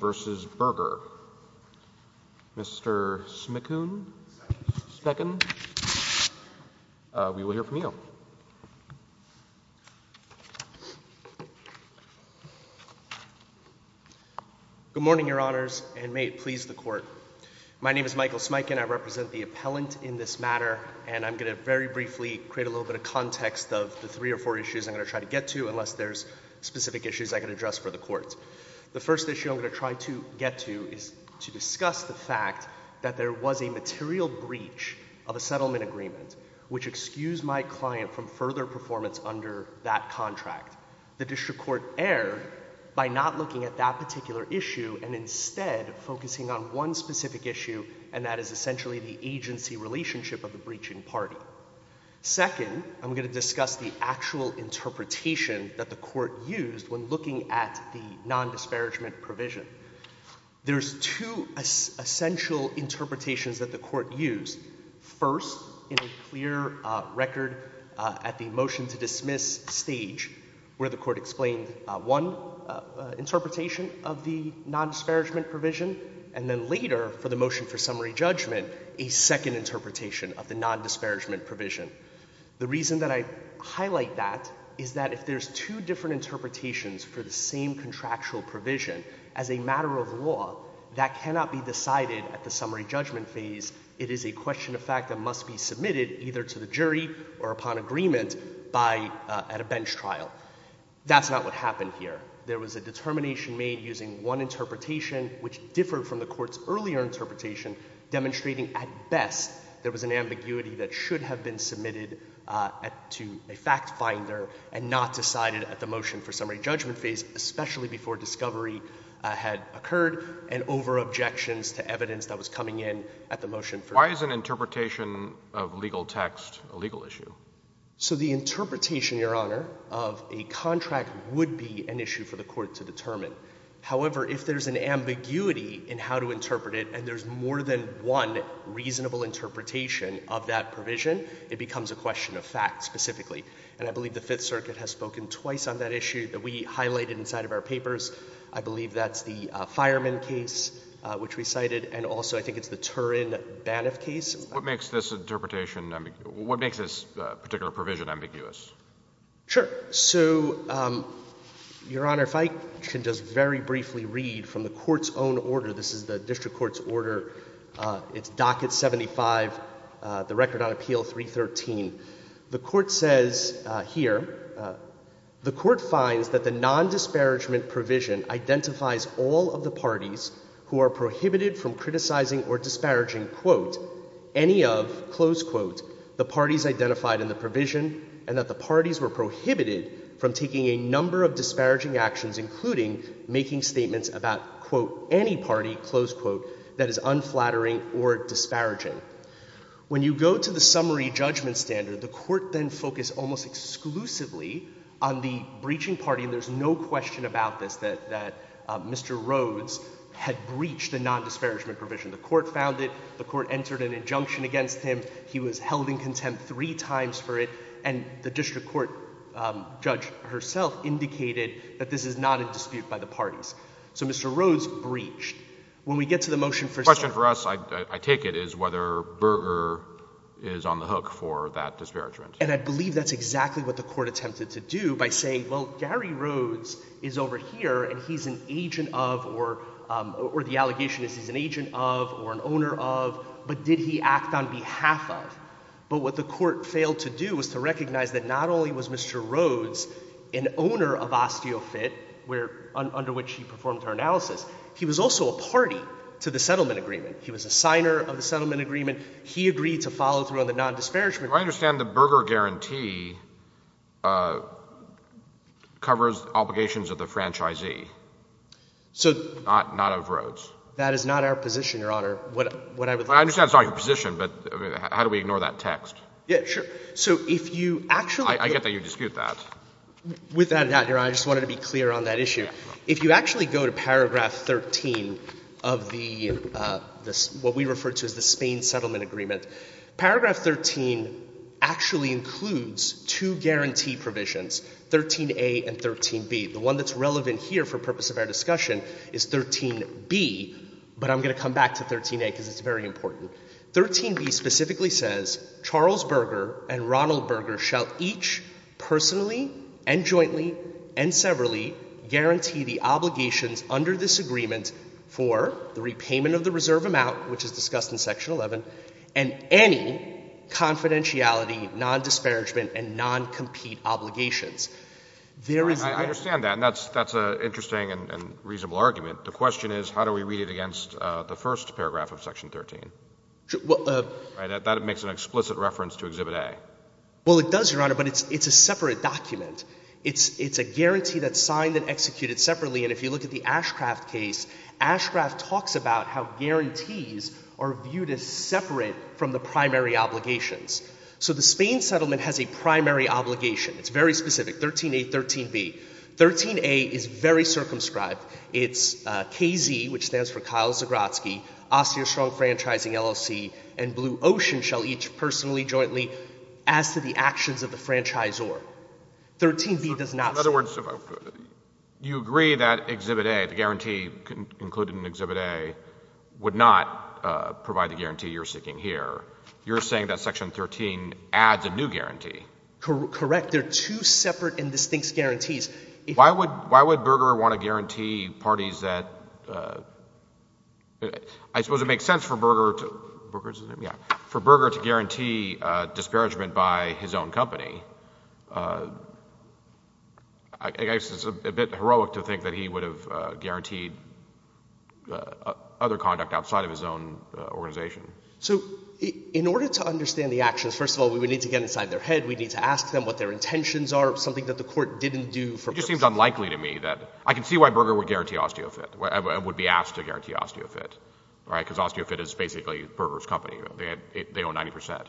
Mr. Smikin, we will hear from you. Good morning, Your Honors, and may it please the Court. My name is Michael Smikin. I represent the appellant in this matter, and I'm going to very briefly create a little bit of context of the three or four issues I'm going to try to get to, unless there's specific issues I can address for the Court. The first issue I'm going to try to get to is to discuss the fact that there was a material breach of a settlement agreement, which excused my client from further performance under that contract. The District Court erred by not looking at that particular issue, and instead focusing on one specific issue, and that is essentially the agency relationship of the breaching party. Second, I'm going to discuss the actual interpretation that the Court used when looking at the material non-disparagement provision. There's two essential interpretations that the Court used. First, in a clear record at the motion-to-dismiss stage, where the Court explained one interpretation of the non-disparagement provision, and then later, for the motion for summary judgment, a second interpretation of the non-disparagement provision. The reason that I highlight that is that if there's two different interpretations for the same contractual provision, as a matter of law, that cannot be decided at the summary judgment phase. It is a question of fact that must be submitted either to the jury or upon agreement by — at a bench trial. That's not what happened here. There was a determination made using one interpretation, which differed from the Court's earlier interpretation, demonstrating at best there was an ambiguity that should have been submitted to a fact finder and not decided at the motion for summary judgment phase, especially before discovery had occurred, and over objections to evidence that was coming in at the motion for — Why is an interpretation of legal text a legal issue? So the interpretation, Your Honor, of a contract would be an issue for the Court to determine. However, if there's an ambiguity in how to interpret it and there's more than one reasonable interpretation of that provision, it becomes a question of fact specifically. And I believe the Fifth Circuit has spoken twice on that issue that we highlighted inside of our papers. I believe that's the Fireman case, which we cited, and also I think it's the Turin-Baniff case. What makes this interpretation — what makes this particular provision ambiguous? Sure. So, Your Honor, if I can just very briefly read from the Court's own order, this is the District Court's order, it's Docket 75, the record on Appeal 313. The Court says here, the Court finds that the nondisparagement provision identifies all of the parties who are prohibited from criticizing or disparaging, quote, any of, close quote, the parties identified in the provision, and that the parties were prohibited from taking a number of disparaging actions, including making statements about, quote, any party, close quote, that is unflattering or disparaging. When you go to the summary judgment standard, the Court then focused almost exclusively on the breaching party, and there's no question about this, that Mr. Rhodes had breached the nondisparagement provision. The Court found it, the Court entered an injunction against him, he was held in contempt three times for it, and the District Court judge herself indicated that this is not a dispute by the parties. So Mr. Rhodes breached. When we get to the motion for... The question for us, I take it, is whether Berger is on the hook for that disparagement. And I believe that's exactly what the Court attempted to do by saying, well, Gary Rhodes is over here and he's an agent of, or the allegation is he's an agent of, or an owner of, but did he act on behalf of? But what the Court failed to do was to recognize that not only was Mr. Rhodes an owner of Osteofit, where, under which he performed her analysis, he was also a party to the settlement agreement. He was a signer of the settlement agreement. He agreed to follow through on the nondisparagement. I understand the Berger guarantee covers obligations of the franchisee, not of Rhodes. That is not our position, Your Honor. What I would like to... I understand it's not your position, but how do we ignore that text? Yeah, sure. So if you actually... I get that you dispute that. With that, Your Honor, I just wanted to be clear on that issue. If you actually go to paragraph 13 of the, what we refer to as the Spain settlement agreement, paragraph 13 actually includes two guarantee provisions, 13a and 13b. The one that's relevant here for purpose of our discussion is 13b, but I'm going to come back to 13a because it's very important. 13b specifically says, Charles Berger and Ronald Berger shall each personally and jointly and severally guarantee the obligations under this agreement for the repayment of the reserve amount, which is discussed in section 11, and any confidentiality, nondisparagement and noncompete obligations. There is... I understand that, and that's an interesting and reasonable argument. The question is, how do we read it against the first paragraph of section 13? That makes an explicit reference to Exhibit A. Well, it does, Your Honor, but it's a separate document. It's a guarantee that's signed and executed separately, and if you look at the Ashcraft case, Ashcraft talks about how guarantees are viewed as separate from the primary obligations. So the Spain settlement has a primary obligation. It's very specific, 13a, 13b. 13a is very circumscribed. It's KZ, which stands for Kyle Zagrotzky, Austria Strong Franchising LLC, and Blue Ocean shall each personally, jointly, as to the actions of the franchisor. 13b does not... In other words, you agree that Exhibit A, the guarantee included in Exhibit A, would not provide the guarantee you're seeking here. You're saying that section 13 adds a new guarantee. Correct. They're two separate and distinct guarantees. Why would Berger want to guarantee parties that... I suppose it makes sense for Berger to guarantee disparagement by his own company. I guess it's a bit heroic to think that he would have guaranteed other conduct outside of his own organization. So in order to understand the actions, first of all, we would need to get inside their head. We'd need to ask them what their intentions are, something that the court didn't do for... It just seems unlikely to me that... I can see why Berger would guarantee Osteofit, would be asked to guarantee Osteofit, right? Because Osteofit is basically Berger's company. They own 90%.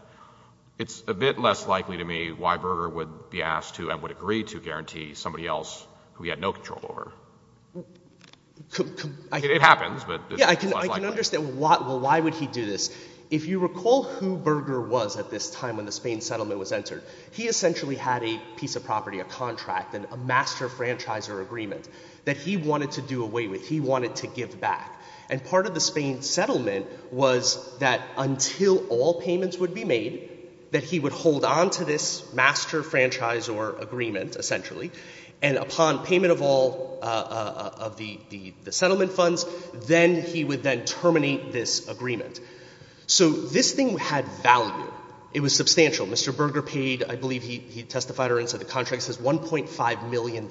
It's a bit less likely to me why Berger would be asked to and would agree to guarantee somebody else who he had no control over. It happens, but... Yeah, I can understand why would he do this. If you recall who Berger was at this time when the Spain settlement was entered, he essentially had a piece of property, a contract, a master franchisor agreement that he wanted to do away with. He wanted to give back. And part of the Spain settlement was that until all payments would be made, that he would hold on to this master franchisor agreement, essentially, and upon payment of all of the So this thing had value. It was substantial. Mr. Berger paid, I believe he testified or said the contract says $1.5 million.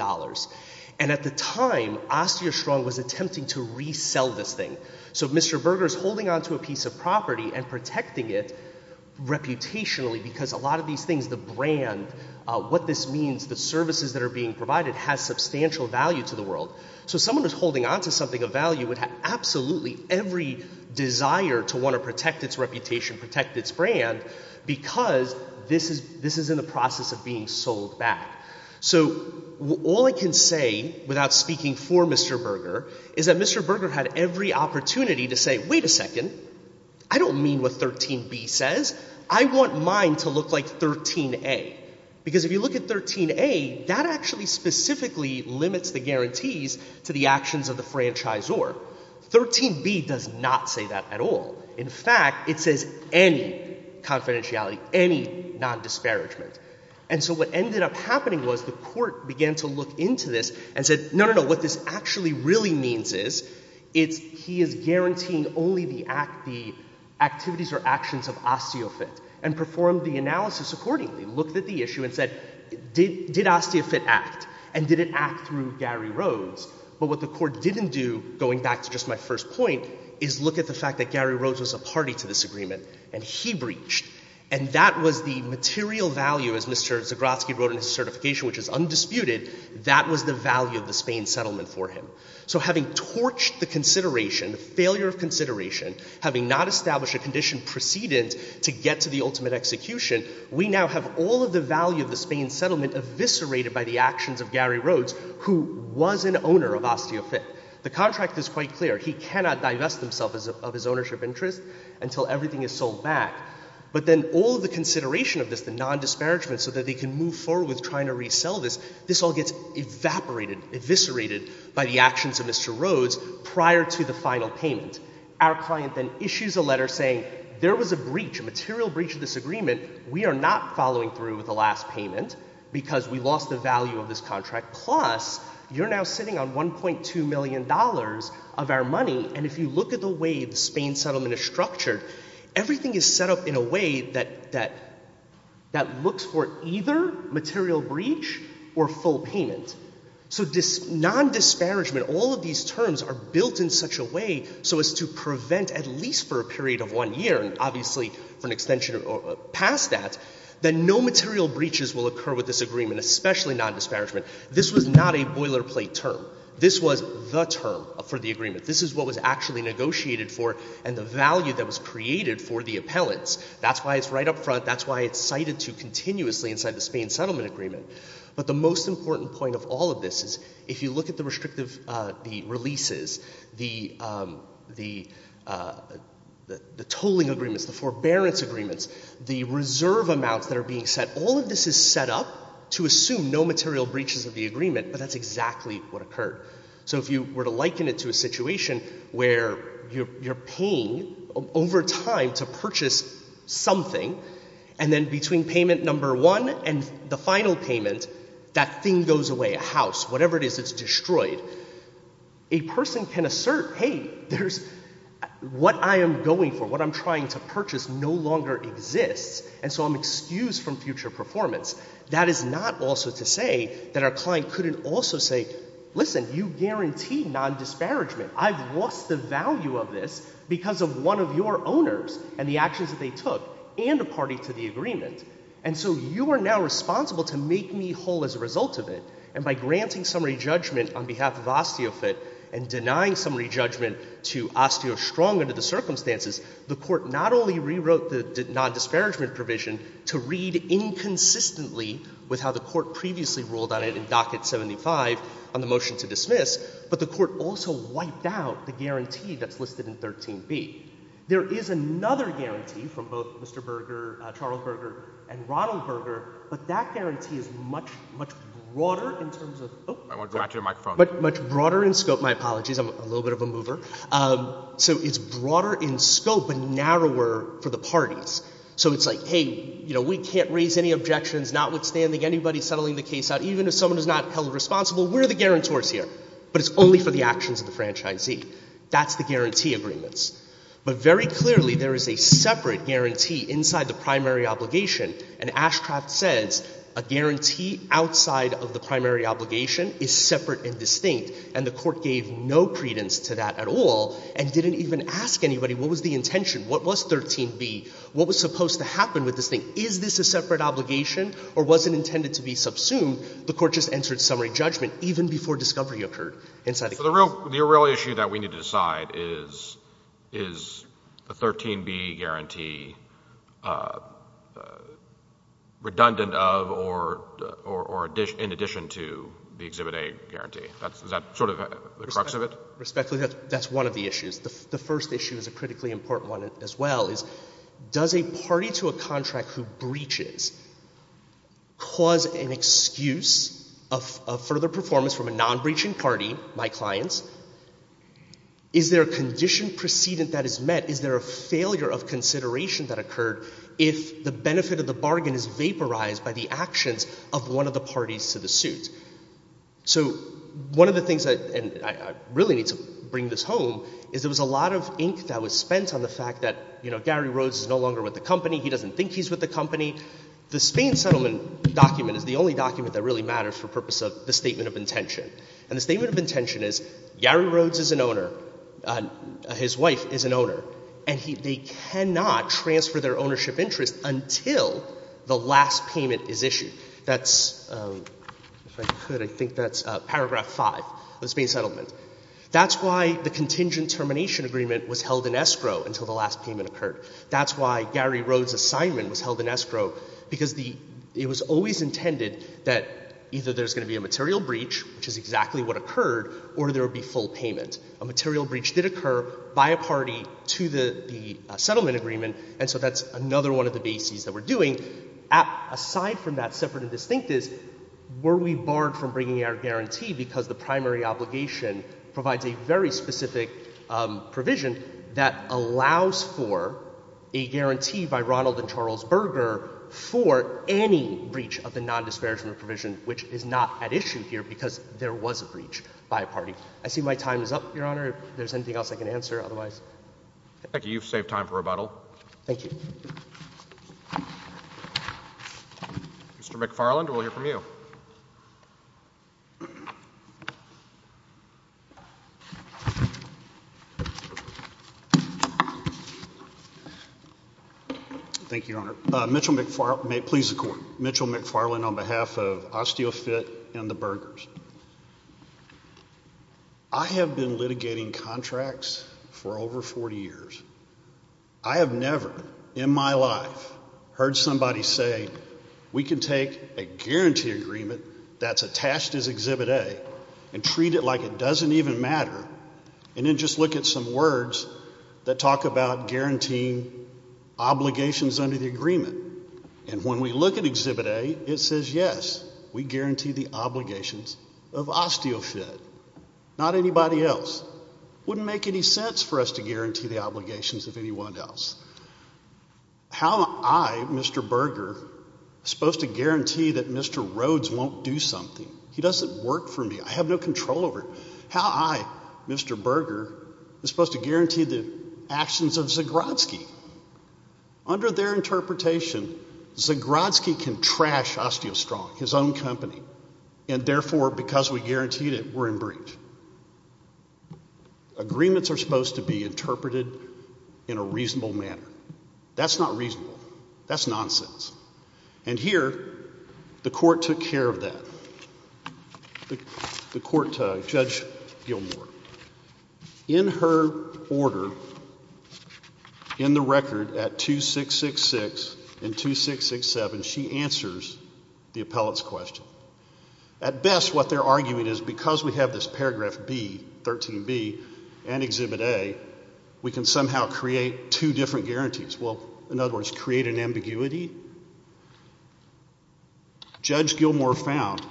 And at the time, OsteoStrong was attempting to resell this thing. So Mr. Berger's holding on to a piece of property and protecting it reputationally because a lot of these things, the brand, what this means, the services that are being provided has substantial value to the world. So someone who's holding on to something of value would have absolutely every desire to want to protect its reputation, protect its brand, because this is in the process of being sold back. So all I can say, without speaking for Mr. Berger, is that Mr. Berger had every opportunity to say, wait a second, I don't mean what 13b says. I want mine to look like 13a. Because if you look at 13a, that actually specifically limits the guarantees to the actions of the franchisor. 13b does not say that at all. In fact, it says any confidentiality, any non-disparagement. And so what ended up happening was the court began to look into this and said, no, no, no, what this actually really means is it's he is guaranteeing only the act, the activities or actions of Osteofit, and performed the analysis accordingly, looked at the issue and said, did Osteofit act? And did it act through Gary Rhodes? But what the court didn't do, going back to just my first point, is look at the fact that Gary Rhodes was a party to this agreement, and he breached. And that was the material value, as Mr. Zagrotsky wrote in his certification, which is undisputed, that was the value of the Spain settlement for him. So having torched the consideration, the failure of consideration, having not established a condition precedent to get to the ultimate execution, we now have all of the value of Gary Rhodes, who was an owner of Osteofit. The contract is quite clear. He cannot divest himself of his ownership interest until everything is sold back. But then all of the consideration of this, the non-disparagement, so that they can move forward with trying to resell this, this all gets evaporated, eviscerated by the actions of Mr. Rhodes prior to the final payment. Our client then issues a letter saying there was a breach, a material breach of this agreement. We are not following through with the last payment because we lost the value of this contract. Plus, you're now sitting on $1.2 million of our money, and if you look at the way the Spain settlement is structured, everything is set up in a way that looks for either material breach or full payment. So non-disparagement, all of these terms are built in such a way so as to prevent at least for a period of one year, and obviously for an extension past that, that no material breaches will occur with this agreement, especially non-disparagement. This was not a boilerplate term. This was the term for the agreement. This is what was actually negotiated for and the value that was created for the appellants. That's why it's right up front. That's why it's cited to continuously inside the Spain settlement agreement. But the most important point of all of this is if you look at the restrictive releases, the tolling agreements, the forbearance agreements, the reserve amounts that are being set, all of this is set up to assume no material breaches of the agreement, but that's exactly what occurred. So if you were to liken it to a situation where you're paying over time to purchase something and then between payment number one and the final payment, that thing goes away, a house, whatever it is, it's destroyed, a person can assert, hey, there's what I am going for, what I'm trying to purchase no longer exists and so I'm excused from future performance. That is not also to say that our client couldn't also say, listen, you guarantee non-disparagement. I've lost the value of this because of one of your owners and the actions that they took and a party to the agreement. And so you are now responsible to make me whole as a result of it. And by granting summary judgment on behalf of Osteofit and denying summary judgment to OsteoStrong under the circumstances, the court not only rewrote the non-disparagement provision to read inconsistently with how the court previously ruled on it in Docket 75 on the dismiss, but the court also wiped out the guarantee that's listed in 13B. There is another guarantee from both Mr. Berger, Charles Berger, and Ronald Berger, but that guarantee is much, much broader in terms of, much broader in scope, my apologies, I'm a little bit of a mover, so it's broader in scope and narrower for the parties. So it's like, hey, you know, we can't raise any objections, notwithstanding anybody settling the case out. Even if someone is not held responsible, we're the guarantors here, but it's only for the actions of the franchisee. That's the guarantee agreements. But very clearly there is a separate guarantee inside the primary obligation, and Ashcroft says a guarantee outside of the primary obligation is separate and distinct, and the court gave no credence to that at all and didn't even ask anybody what was the intention, what was 13B, what was supposed to happen with this thing. Is this a separate obligation or was it intended to be subsumed? The court just entered summary judgment even before discovery occurred inside the case. So the real issue that we need to decide is, is the 13B guarantee redundant of or in addition to the Exhibit A guarantee? Is that sort of the crux of it? Respectfully, that's one of the issues. The first issue is a critically important one as well, is does a party to a contract who breaches cause an excuse of further performance from a non-breaching party, my clients? Is there a condition precedent that is met? Is there a failure of consideration that occurred if the benefit of the bargain is vaporized by the actions of one of the parties to the suit? So one of the things, and I really need to bring this home, is there was a lot of ink that was spent on the fact that, you know, Gary Rhodes is no longer with the company. He doesn't think he's with the company. The Spain settlement document is the only document that really matters for purpose of the statement of intention, and the statement of intention is Gary Rhodes is an owner, his wife is an owner, and they cannot transfer their ownership interest until the last payment is issued. That's, if I could, I think that's paragraph five of the Spain settlement. That's why the contingent termination agreement was held in escrow until the last payment occurred. That's why Gary Rhodes' assignment was held in escrow, because it was always intended that either there's going to be a material breach, which is exactly what occurred, or there would be full payment. A material breach did occur by a party to the settlement agreement, and so that's another one of the bases that we're doing. Aside from that, separate and distinct is, were we barred from bringing our guarantee, because the primary obligation provides a very specific provision that allows for a guarantee by Ronald and Charles Berger for any breach of the non-disparagement provision, which is not at issue here, because there was a breach by a party. I see my time is up, Your Honor. If there's anything else I can answer, otherwise. Thank you. You've saved time for rebuttal. Thank you. Mr. McFarland, we'll hear from you. Thank you, Your Honor. Mitchell McFarland, on behalf of Osteofit and the Bergers. I have been litigating contracts for over 40 years. I have never in my life heard somebody say, we can take a guarantee agreement that's attached as Exhibit A and treat it like it doesn't even matter, and then just look at some words that talk about guaranteeing obligations under the agreement. And when we look at Exhibit A, it says, yes, we guarantee the obligations of Osteofit. Not anybody else. Wouldn't make any sense for us to guarantee the obligations of anyone else. How am I, Mr. Berger, supposed to guarantee that Mr. Rhodes won't do something? He doesn't work for me. I have no control over it. How am I, Mr. Berger, supposed to guarantee the actions of Zagrodzki? Under their interpretation, Zagrodzki can trash Osteostrong, his own company. And therefore, because we guaranteed it, we're in breach. Agreements are supposed to be interpreted in a reasonable manner. That's not reasonable. That's nonsense. And here, the court took care of that. The court, Judge Gilmour, in her order, in the record at 2666 and 2667, she answers the appellate's question. At best, what they're arguing is because we have this paragraph B, 13B, and Exhibit A, we can somehow create two different guarantees. Well, in other words, create an ambiguity. Judge Gilmour found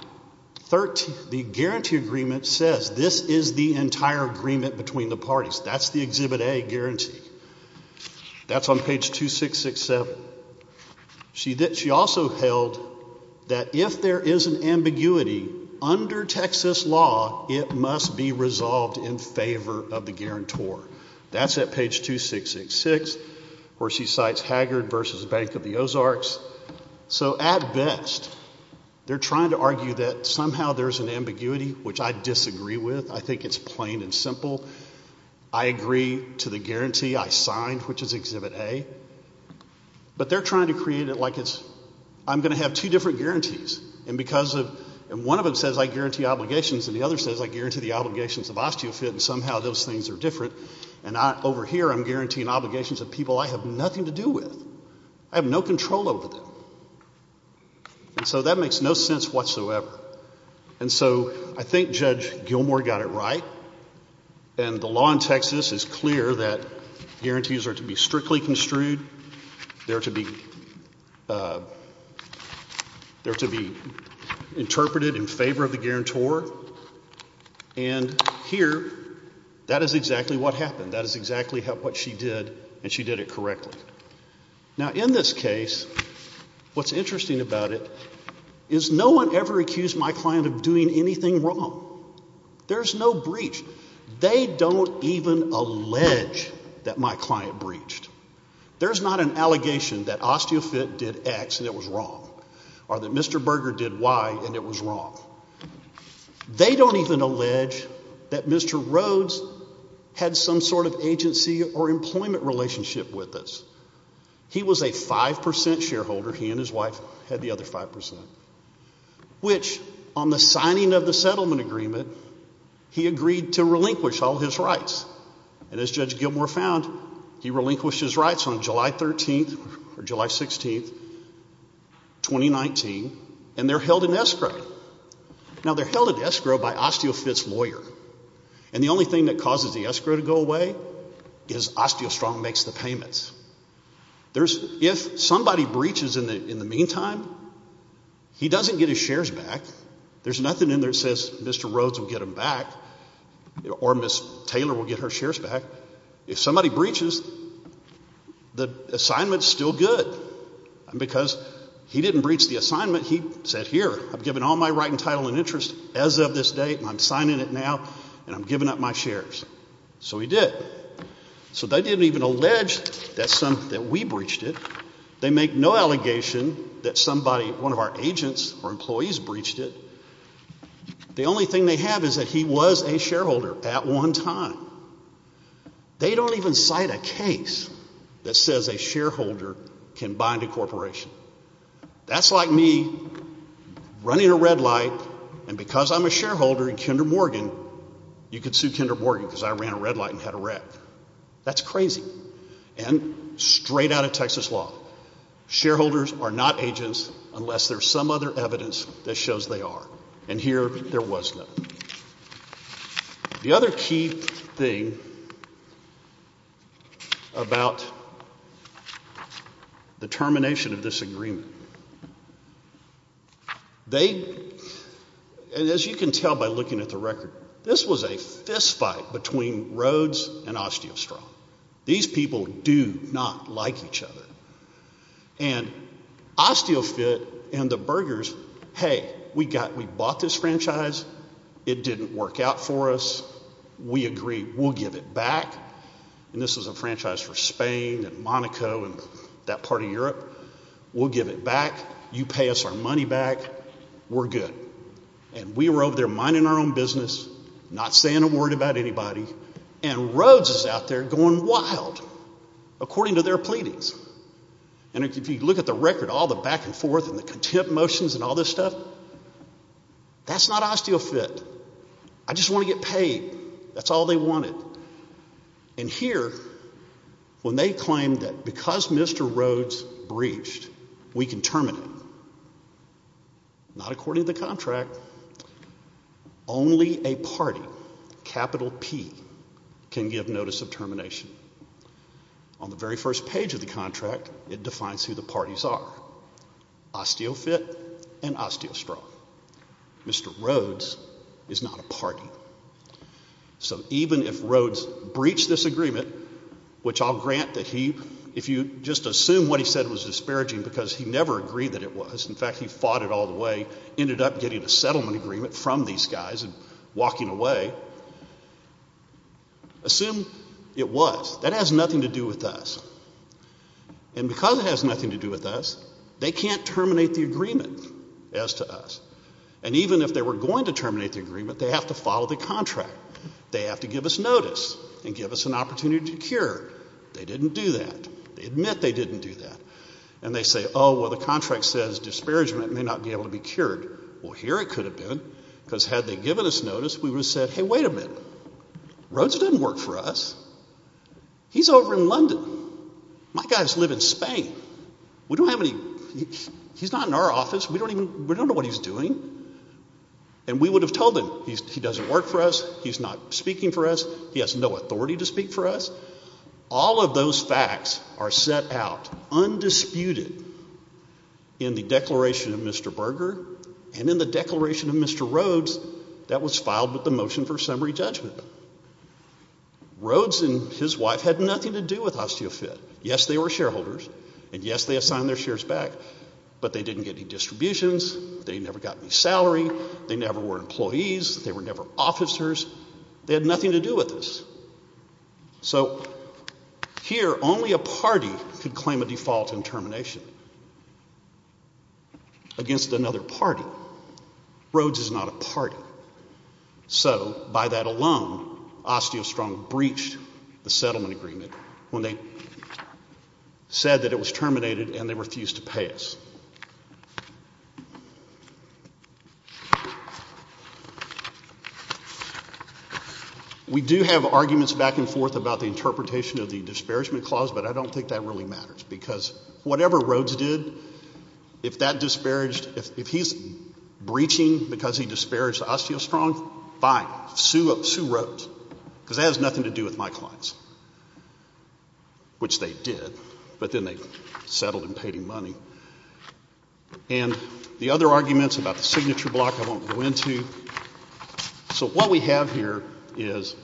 the guarantee agreement says this is the entire agreement between the parties. That's the Exhibit A guarantee. That's on page 2667. She also held that if there is an ambiguity under Texas law, it must be resolved in favor of the guarantor. That's at page 2666, where she cites Haggard versus Bank of the Ozarks. So at best, they're trying to argue that somehow there's an ambiguity, which I disagree with. I think it's plain and simple. I agree to the guarantee I signed, which is Exhibit A. But they're trying to create it like it's, I'm going to have two different guarantees. And because of, and one of them says I guarantee obligations, and the other says I guarantee the obligations of osteofit, and somehow those things are different. And I, over here, I'm guaranteeing obligations of people I have nothing to do with. I have no control over them. And so that makes no sense whatsoever. And so I think Judge Gilmour got it right. And the law in Texas is clear that guarantees are to be strictly construed. They're to be, they're to be interpreted in favor of the guarantor. And here, that is exactly what happened. That is exactly what she did, and she did it correctly. Now, in this case, what's interesting about it is no one ever accused my client of doing anything wrong. There's no breach. They don't even allege that my client breached. There's not an allegation that osteofit did X and it was wrong, or that Mr. Berger did Y and it was wrong. They don't even allege that Mr. Rhodes had some sort of agency or employment relationship with us. He was a 5% shareholder. He and his wife had the other 5%. Which, on the signing of the settlement agreement, he agreed to relinquish all his rights. And as Judge Gilmour found, he relinquished his rights on July 13th or July 16th, 2019, and they're held in escrow. Now, they're held in escrow by osteofit's lawyer. And the only thing that causes the escrow to go away is OsteoStrong makes the payments. There's, if somebody breaches in the meantime, he doesn't get his shares back. There's nothing in there that says Mr. Rhodes will get them back, or Ms. Taylor will get her shares back. If somebody breaches, the assignment's still good, because he didn't breach the assignment. He said, here, I've given all my right and title and interest as of this date, and I'm signing it now, and I'm giving up my shares. So he did. So they didn't even allege that we breached it. They make no allegation that somebody, one of our agents or employees breached it. The only thing they have is that he was a shareholder at one time. They don't even cite a case that says a shareholder can bind a corporation. That's like me running a red light, and because I'm a shareholder, you can sue Kendra Morgan, because I ran a red light and had a wreck. That's crazy, and straight out of Texas law. Shareholders are not agents unless there's some other evidence that shows they are. And here, there was none. The other key thing about the termination of this agreement. They, and as you can tell by looking at the record, this was a fist fight between Rhodes and OsteoStrong. These people do not like each other. And OsteoFit and the burgers, hey, we got, we bought this franchise. It didn't work out for us. We agree, we'll give it back, and this was a franchise for Spain and Monaco and that part of Europe. We'll give it back. You pay us our money back. We're good. And we were over there minding our own business, not saying a word about anybody, and Rhodes is out there going wild according to their pleadings. And if you look at the record, all the back and forth and the contempt motions and all this stuff, that's not OsteoFit. I just want to get paid. That's all they wanted. And here, when they claim that because Mr. Rhodes breached, we can terminate him. Not according to the contract. Only a party, capital P, can give notice of termination. On the very first page of the contract, it defines who the parties are, OsteoFit and OsteoStrong. Mr. Rhodes is not a party. So even if Rhodes breached this agreement, which I'll grant that he, if you just assume what he said was disparaging because he never agreed that it was, in fact, he fought it all the way, ended up getting a settlement agreement from these guys and walking away, assume it was. That has nothing to do with us. And because it has nothing to do with us, they can't terminate the agreement as to us. And even if they were going to terminate the agreement, they have to follow the contract. They have to give us notice and give us an opportunity to cure. They didn't do that. They admit they didn't do that. And they say, oh, well, the contract says disparagement may not be able to be cured. Well, here it could have been. Because had they given us notice, we would have said, hey, wait a minute. Rhodes didn't work for us. He's over in London. My guys live in Spain. We don't have any, he's not in our office. We don't even, we don't know what he's doing. And we would have told him, he doesn't work for us. He's not speaking for us. He has no authority to speak for us. All of those facts are set out, undisputed, in the declaration of Mr. Berger and in the declaration of Mr. Rhodes that was filed with the motion for summary judgment. Rhodes and his wife had nothing to do with osteofit. Yes, they were shareholders. And yes, they assigned their shares back. But they didn't get any distributions. They never got any salary. They never were employees. They were never officers. They had nothing to do with this. So here, only a party could claim a default in termination against another party. Rhodes is not a party. So by that alone, OsteoStrong breached the settlement agreement when they said that it was terminated and they refused to pay us. We do have arguments back and forth about the interpretation of the disparagement clause. But I don't think that really matters. Because whatever Rhodes did, if that disparaged, if he's breaching because he disparaged OsteoStrong, fine. Sue Rhodes. Because that has nothing to do with my clients, which they did. But then they settled and paid him money. And the other arguments about the signature block I won't go into. So what we have here is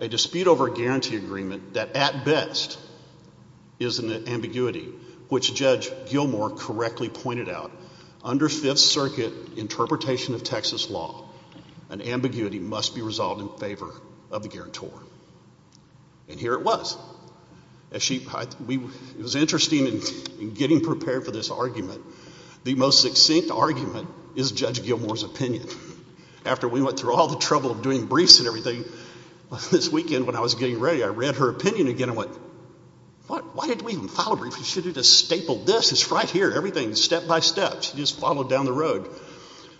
a dispute over a guarantee agreement that, at best, is an ambiguity, which Judge Gilmour correctly pointed out. Under Fifth Circuit interpretation of Texas law, an ambiguity must be resolved in favor of the guarantor. And here it was. It was interesting in getting prepared for this argument. The most succinct argument is Judge Gilmour's opinion. After we went through all the trouble of doing briefs and everything, this weekend when I was getting ready, I read her opinion again and went, what? Why did we even file a brief? We should have just stapled this. It's right here. Everything, step by step, she just followed down the road.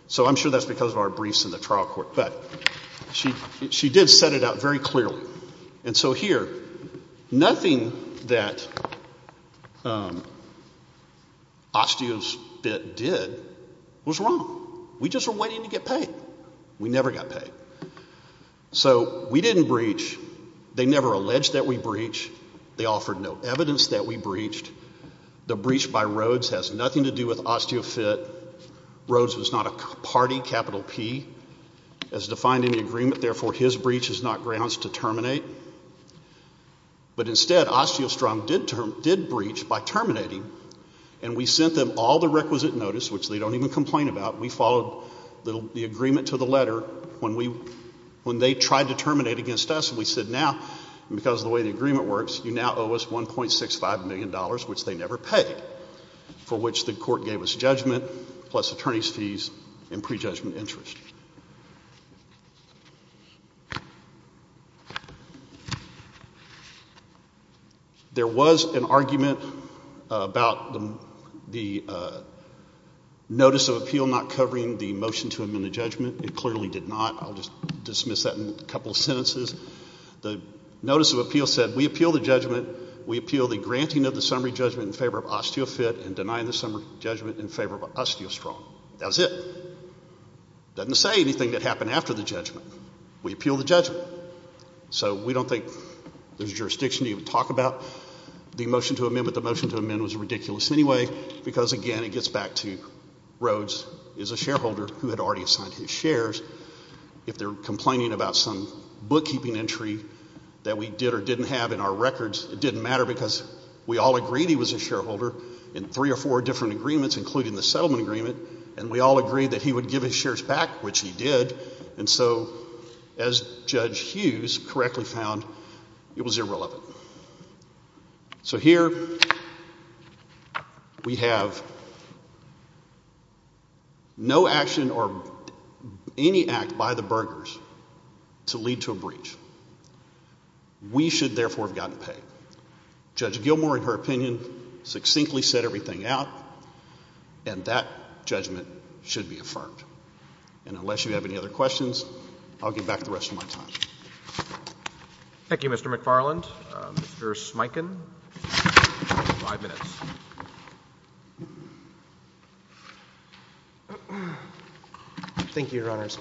So I'm sure that's because of our briefs in the trial court. But she did set it out very clearly. And so here, nothing that Osteofit did was wrong. We just were waiting to get paid. We never got paid. So we didn't breach. They never alleged that we breached. They offered no evidence that we breached. The breach by Rhodes has nothing to do with Osteofit. Rhodes was not a party, capital P, as defined in the agreement. Therefore, his breach is not grounds to terminate. But instead, Osteostrom did breach by terminating. And we sent them all the requisite notice, which they don't even complain about. We followed the agreement to the letter when they tried to terminate against us. And we said, now, because of the way the agreement works, you now owe us $1.65 million, which they never paid, for which the court gave us judgment, plus attorney's fees and prejudgment interest. There was an argument about the notice of appeal not covering the motion to amend the judgment. It clearly did not. I'll just dismiss that in a couple of sentences. The notice of appeal said, we appeal the judgment. We appeal the granting of the summary judgment in favor of Osteofit and denying the summary judgment in favor of Osteostrom. That was it. Doesn't say anything that happened after the judgment. We appeal the judgment. So we don't think there's jurisdiction to even talk about the motion to amend. But the motion to amend was ridiculous anyway, because again, it gets back to Rhodes is a shareholder who had already signed his shares. If they're complaining about some bookkeeping entry that we did or didn't have in our records, it didn't matter, because we all agreed he was a shareholder in three or four different agreements, including the settlement agreement. And we all agreed that he would give his shares back, which he did. And so as Judge Hughes correctly found, it was irrelevant. So here we have no action or any act by the burgers to lead to a breach. We should, therefore, have gotten paid. Judge Gilmour, in her opinion, succinctly set everything out. And that judgment should be affirmed. And unless you have any other questions, I'll give back the rest of my time. Thank you, Mr. McFarland. Thank you, Your Honors.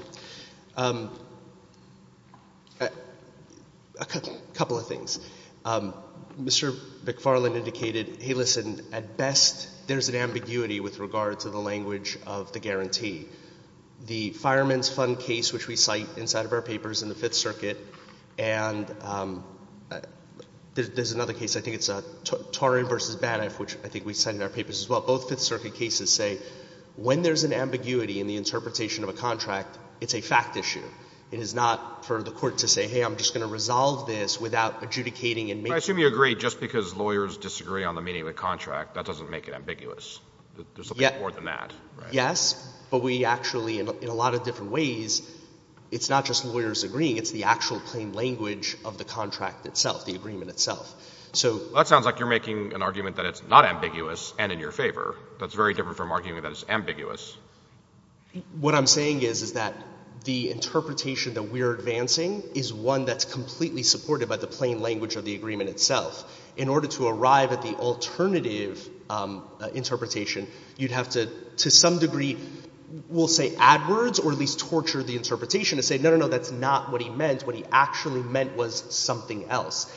A couple of things. Mr. McFarland indicated, hey, listen, at best, there's an ambiguity with regard to the language of the guarantee. The Fireman's Fund case, which we cite inside of our papers in the Fifth Circuit, and there's another case, I think it's Taurian versus Banneff, which I think we cite in our papers as well, both Fifth Circuit cases say, when there's an ambiguity it's a fact issue. It is not for the court to say, hey, I'm just going to resolve this without adjudicating and making sure. I assume you agree just because lawyers disagree on the meaning of the contract, that doesn't make it ambiguous. There's something more than that. Yes. But we actually, in a lot of different ways, it's not just lawyers agreeing. It's the actual plain language of the contract itself, the agreement itself. So that sounds like you're making an argument that it's not ambiguous and in your favor. That's very different from arguing that it's ambiguous. What I'm saying is that the interpretation that we're advancing is one that's completely supported by the plain language of the agreement itself. In order to arrive at the alternative interpretation, you'd have to, to some degree, we'll say add words or at least torture the interpretation and say, no, no, no, that's not what he meant. What he actually meant was something else.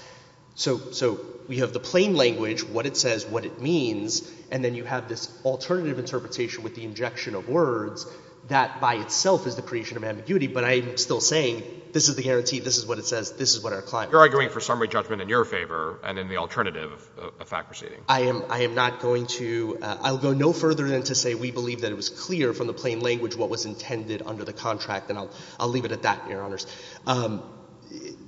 So we have the plain language, what it says, what it means, and then you have this alternative interpretation with the injection of words that by itself is the creation of ambiguity. But I'm still saying, this is the guarantee, this is what it says, this is what our client wants. You're arguing for summary judgment in your favor and in the alternative of fact proceeding. I am not going to, I'll go no further than to say we believe that it was clear from the plain language what was intended under the contract. And I'll leave it at that, Your Honors.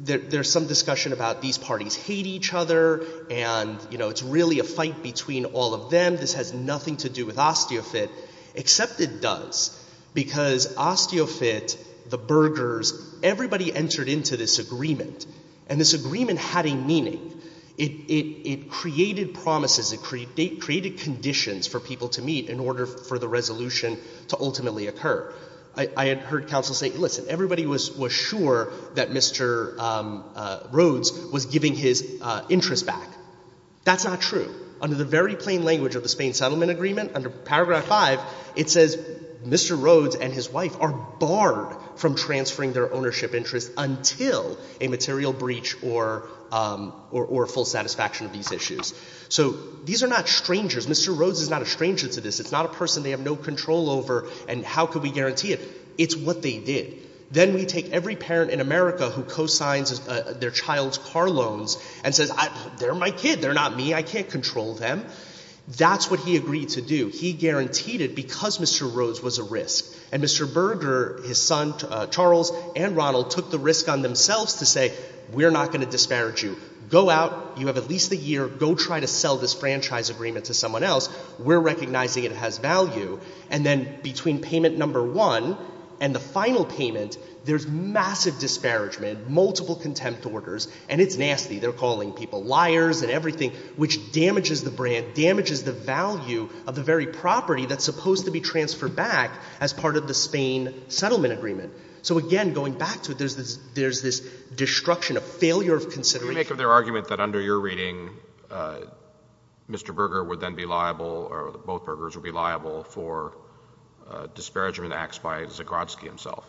There's some discussion about these parties hate each other and it's really a fight between all of them. This has nothing to do with Osteofit except it does because Osteofit, the burgers, everybody entered into this agreement and this agreement had a meaning. It created promises, it created conditions for people to meet in order for the resolution to ultimately occur. I had heard counsel say, listen, everybody was sure that Mr. Rhodes was giving his interest back. That's not true. Under the very plain language of the Spain Settlement Agreement, under paragraph five, it says Mr. Rhodes and his wife are barred from transferring their ownership interest until a material breach or full satisfaction of these issues. So these are not strangers. Mr. Rhodes is not a stranger to this. It's not a person they have no control over and how could we guarantee it? It's what they did. Then we take every parent in America who co-signs their child's car loans and says, they're my kid, they're not me. I can't control them. That's what he agreed to do. He guaranteed it because Mr. Rhodes was a risk. And Mr. Berger, his son, Charles, and Ronald took the risk on themselves to say, we're not going to disparage you. Go out, you have at least a year, go try to sell this franchise agreement to someone else. We're recognizing it has value. And then between payment number one and the final payment, there's massive disparagement, multiple contempt orders, and it's nasty. They're calling people liars and everything, which damages the brand, damages the value of the very property that's supposed to be transferred back as part of the Spain settlement agreement. So again, going back to it, there's this destruction, a failure of consideration. What do you make of their argument that under your reading, Mr. Berger would then be liable, or both Bergers would be liable, for disparagement acts by Zagrodzki himself?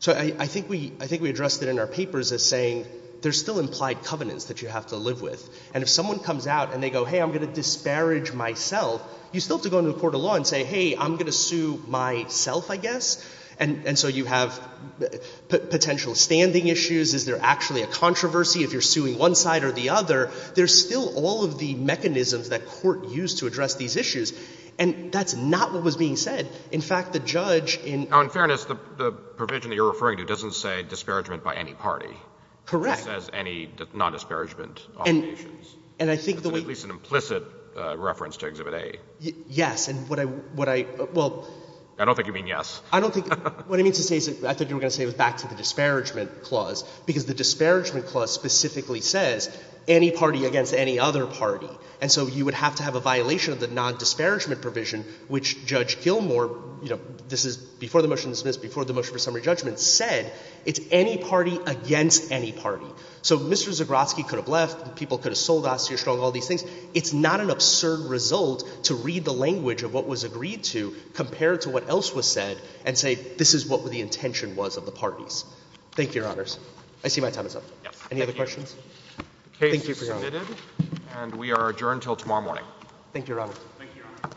So I think we addressed it in our papers as saying, there's still implied covenants that you have to live with. And if someone comes out and they go, hey, I'm going to disparage myself, you still have to go into a court of law and say, hey, I'm going to sue myself, I guess. And so you have potential standing issues. Is there actually a controversy if you're suing one side or the other? There's still all of the mechanisms that court used to address these issues. And that's not what was being said. In fact, the judge in- In fairness, the provision that you're referring to doesn't say disparagement by any party. Correct. It says any non-disparagement obligations. And I think the way- That's at least an implicit reference to Exhibit A. Yes, and what I, well- I don't think you mean yes. I don't think, what I mean to say is, I thought you were going to say it was back to the disparagement clause, because the disparagement clause specifically says, any party against any other party. And so you would have to have a violation of the non-disparagement provision, which Judge Gilmour, this is before the motion was dismissed, before the motion for summary judgment, said, it's any party against any party. So Mr. Zagrotsky could have left, people could have sold Osterstrom, all these things. It's not an absurd result to read the language of what was agreed to, compared to what else was said, and say, this is what the intention was of the parties. Thank you, Your Honors. I see my time is up. Any other questions? The case is submitted, and we are adjourned until tomorrow morning. Thank you, Your Honor. Thank you, Your Honor.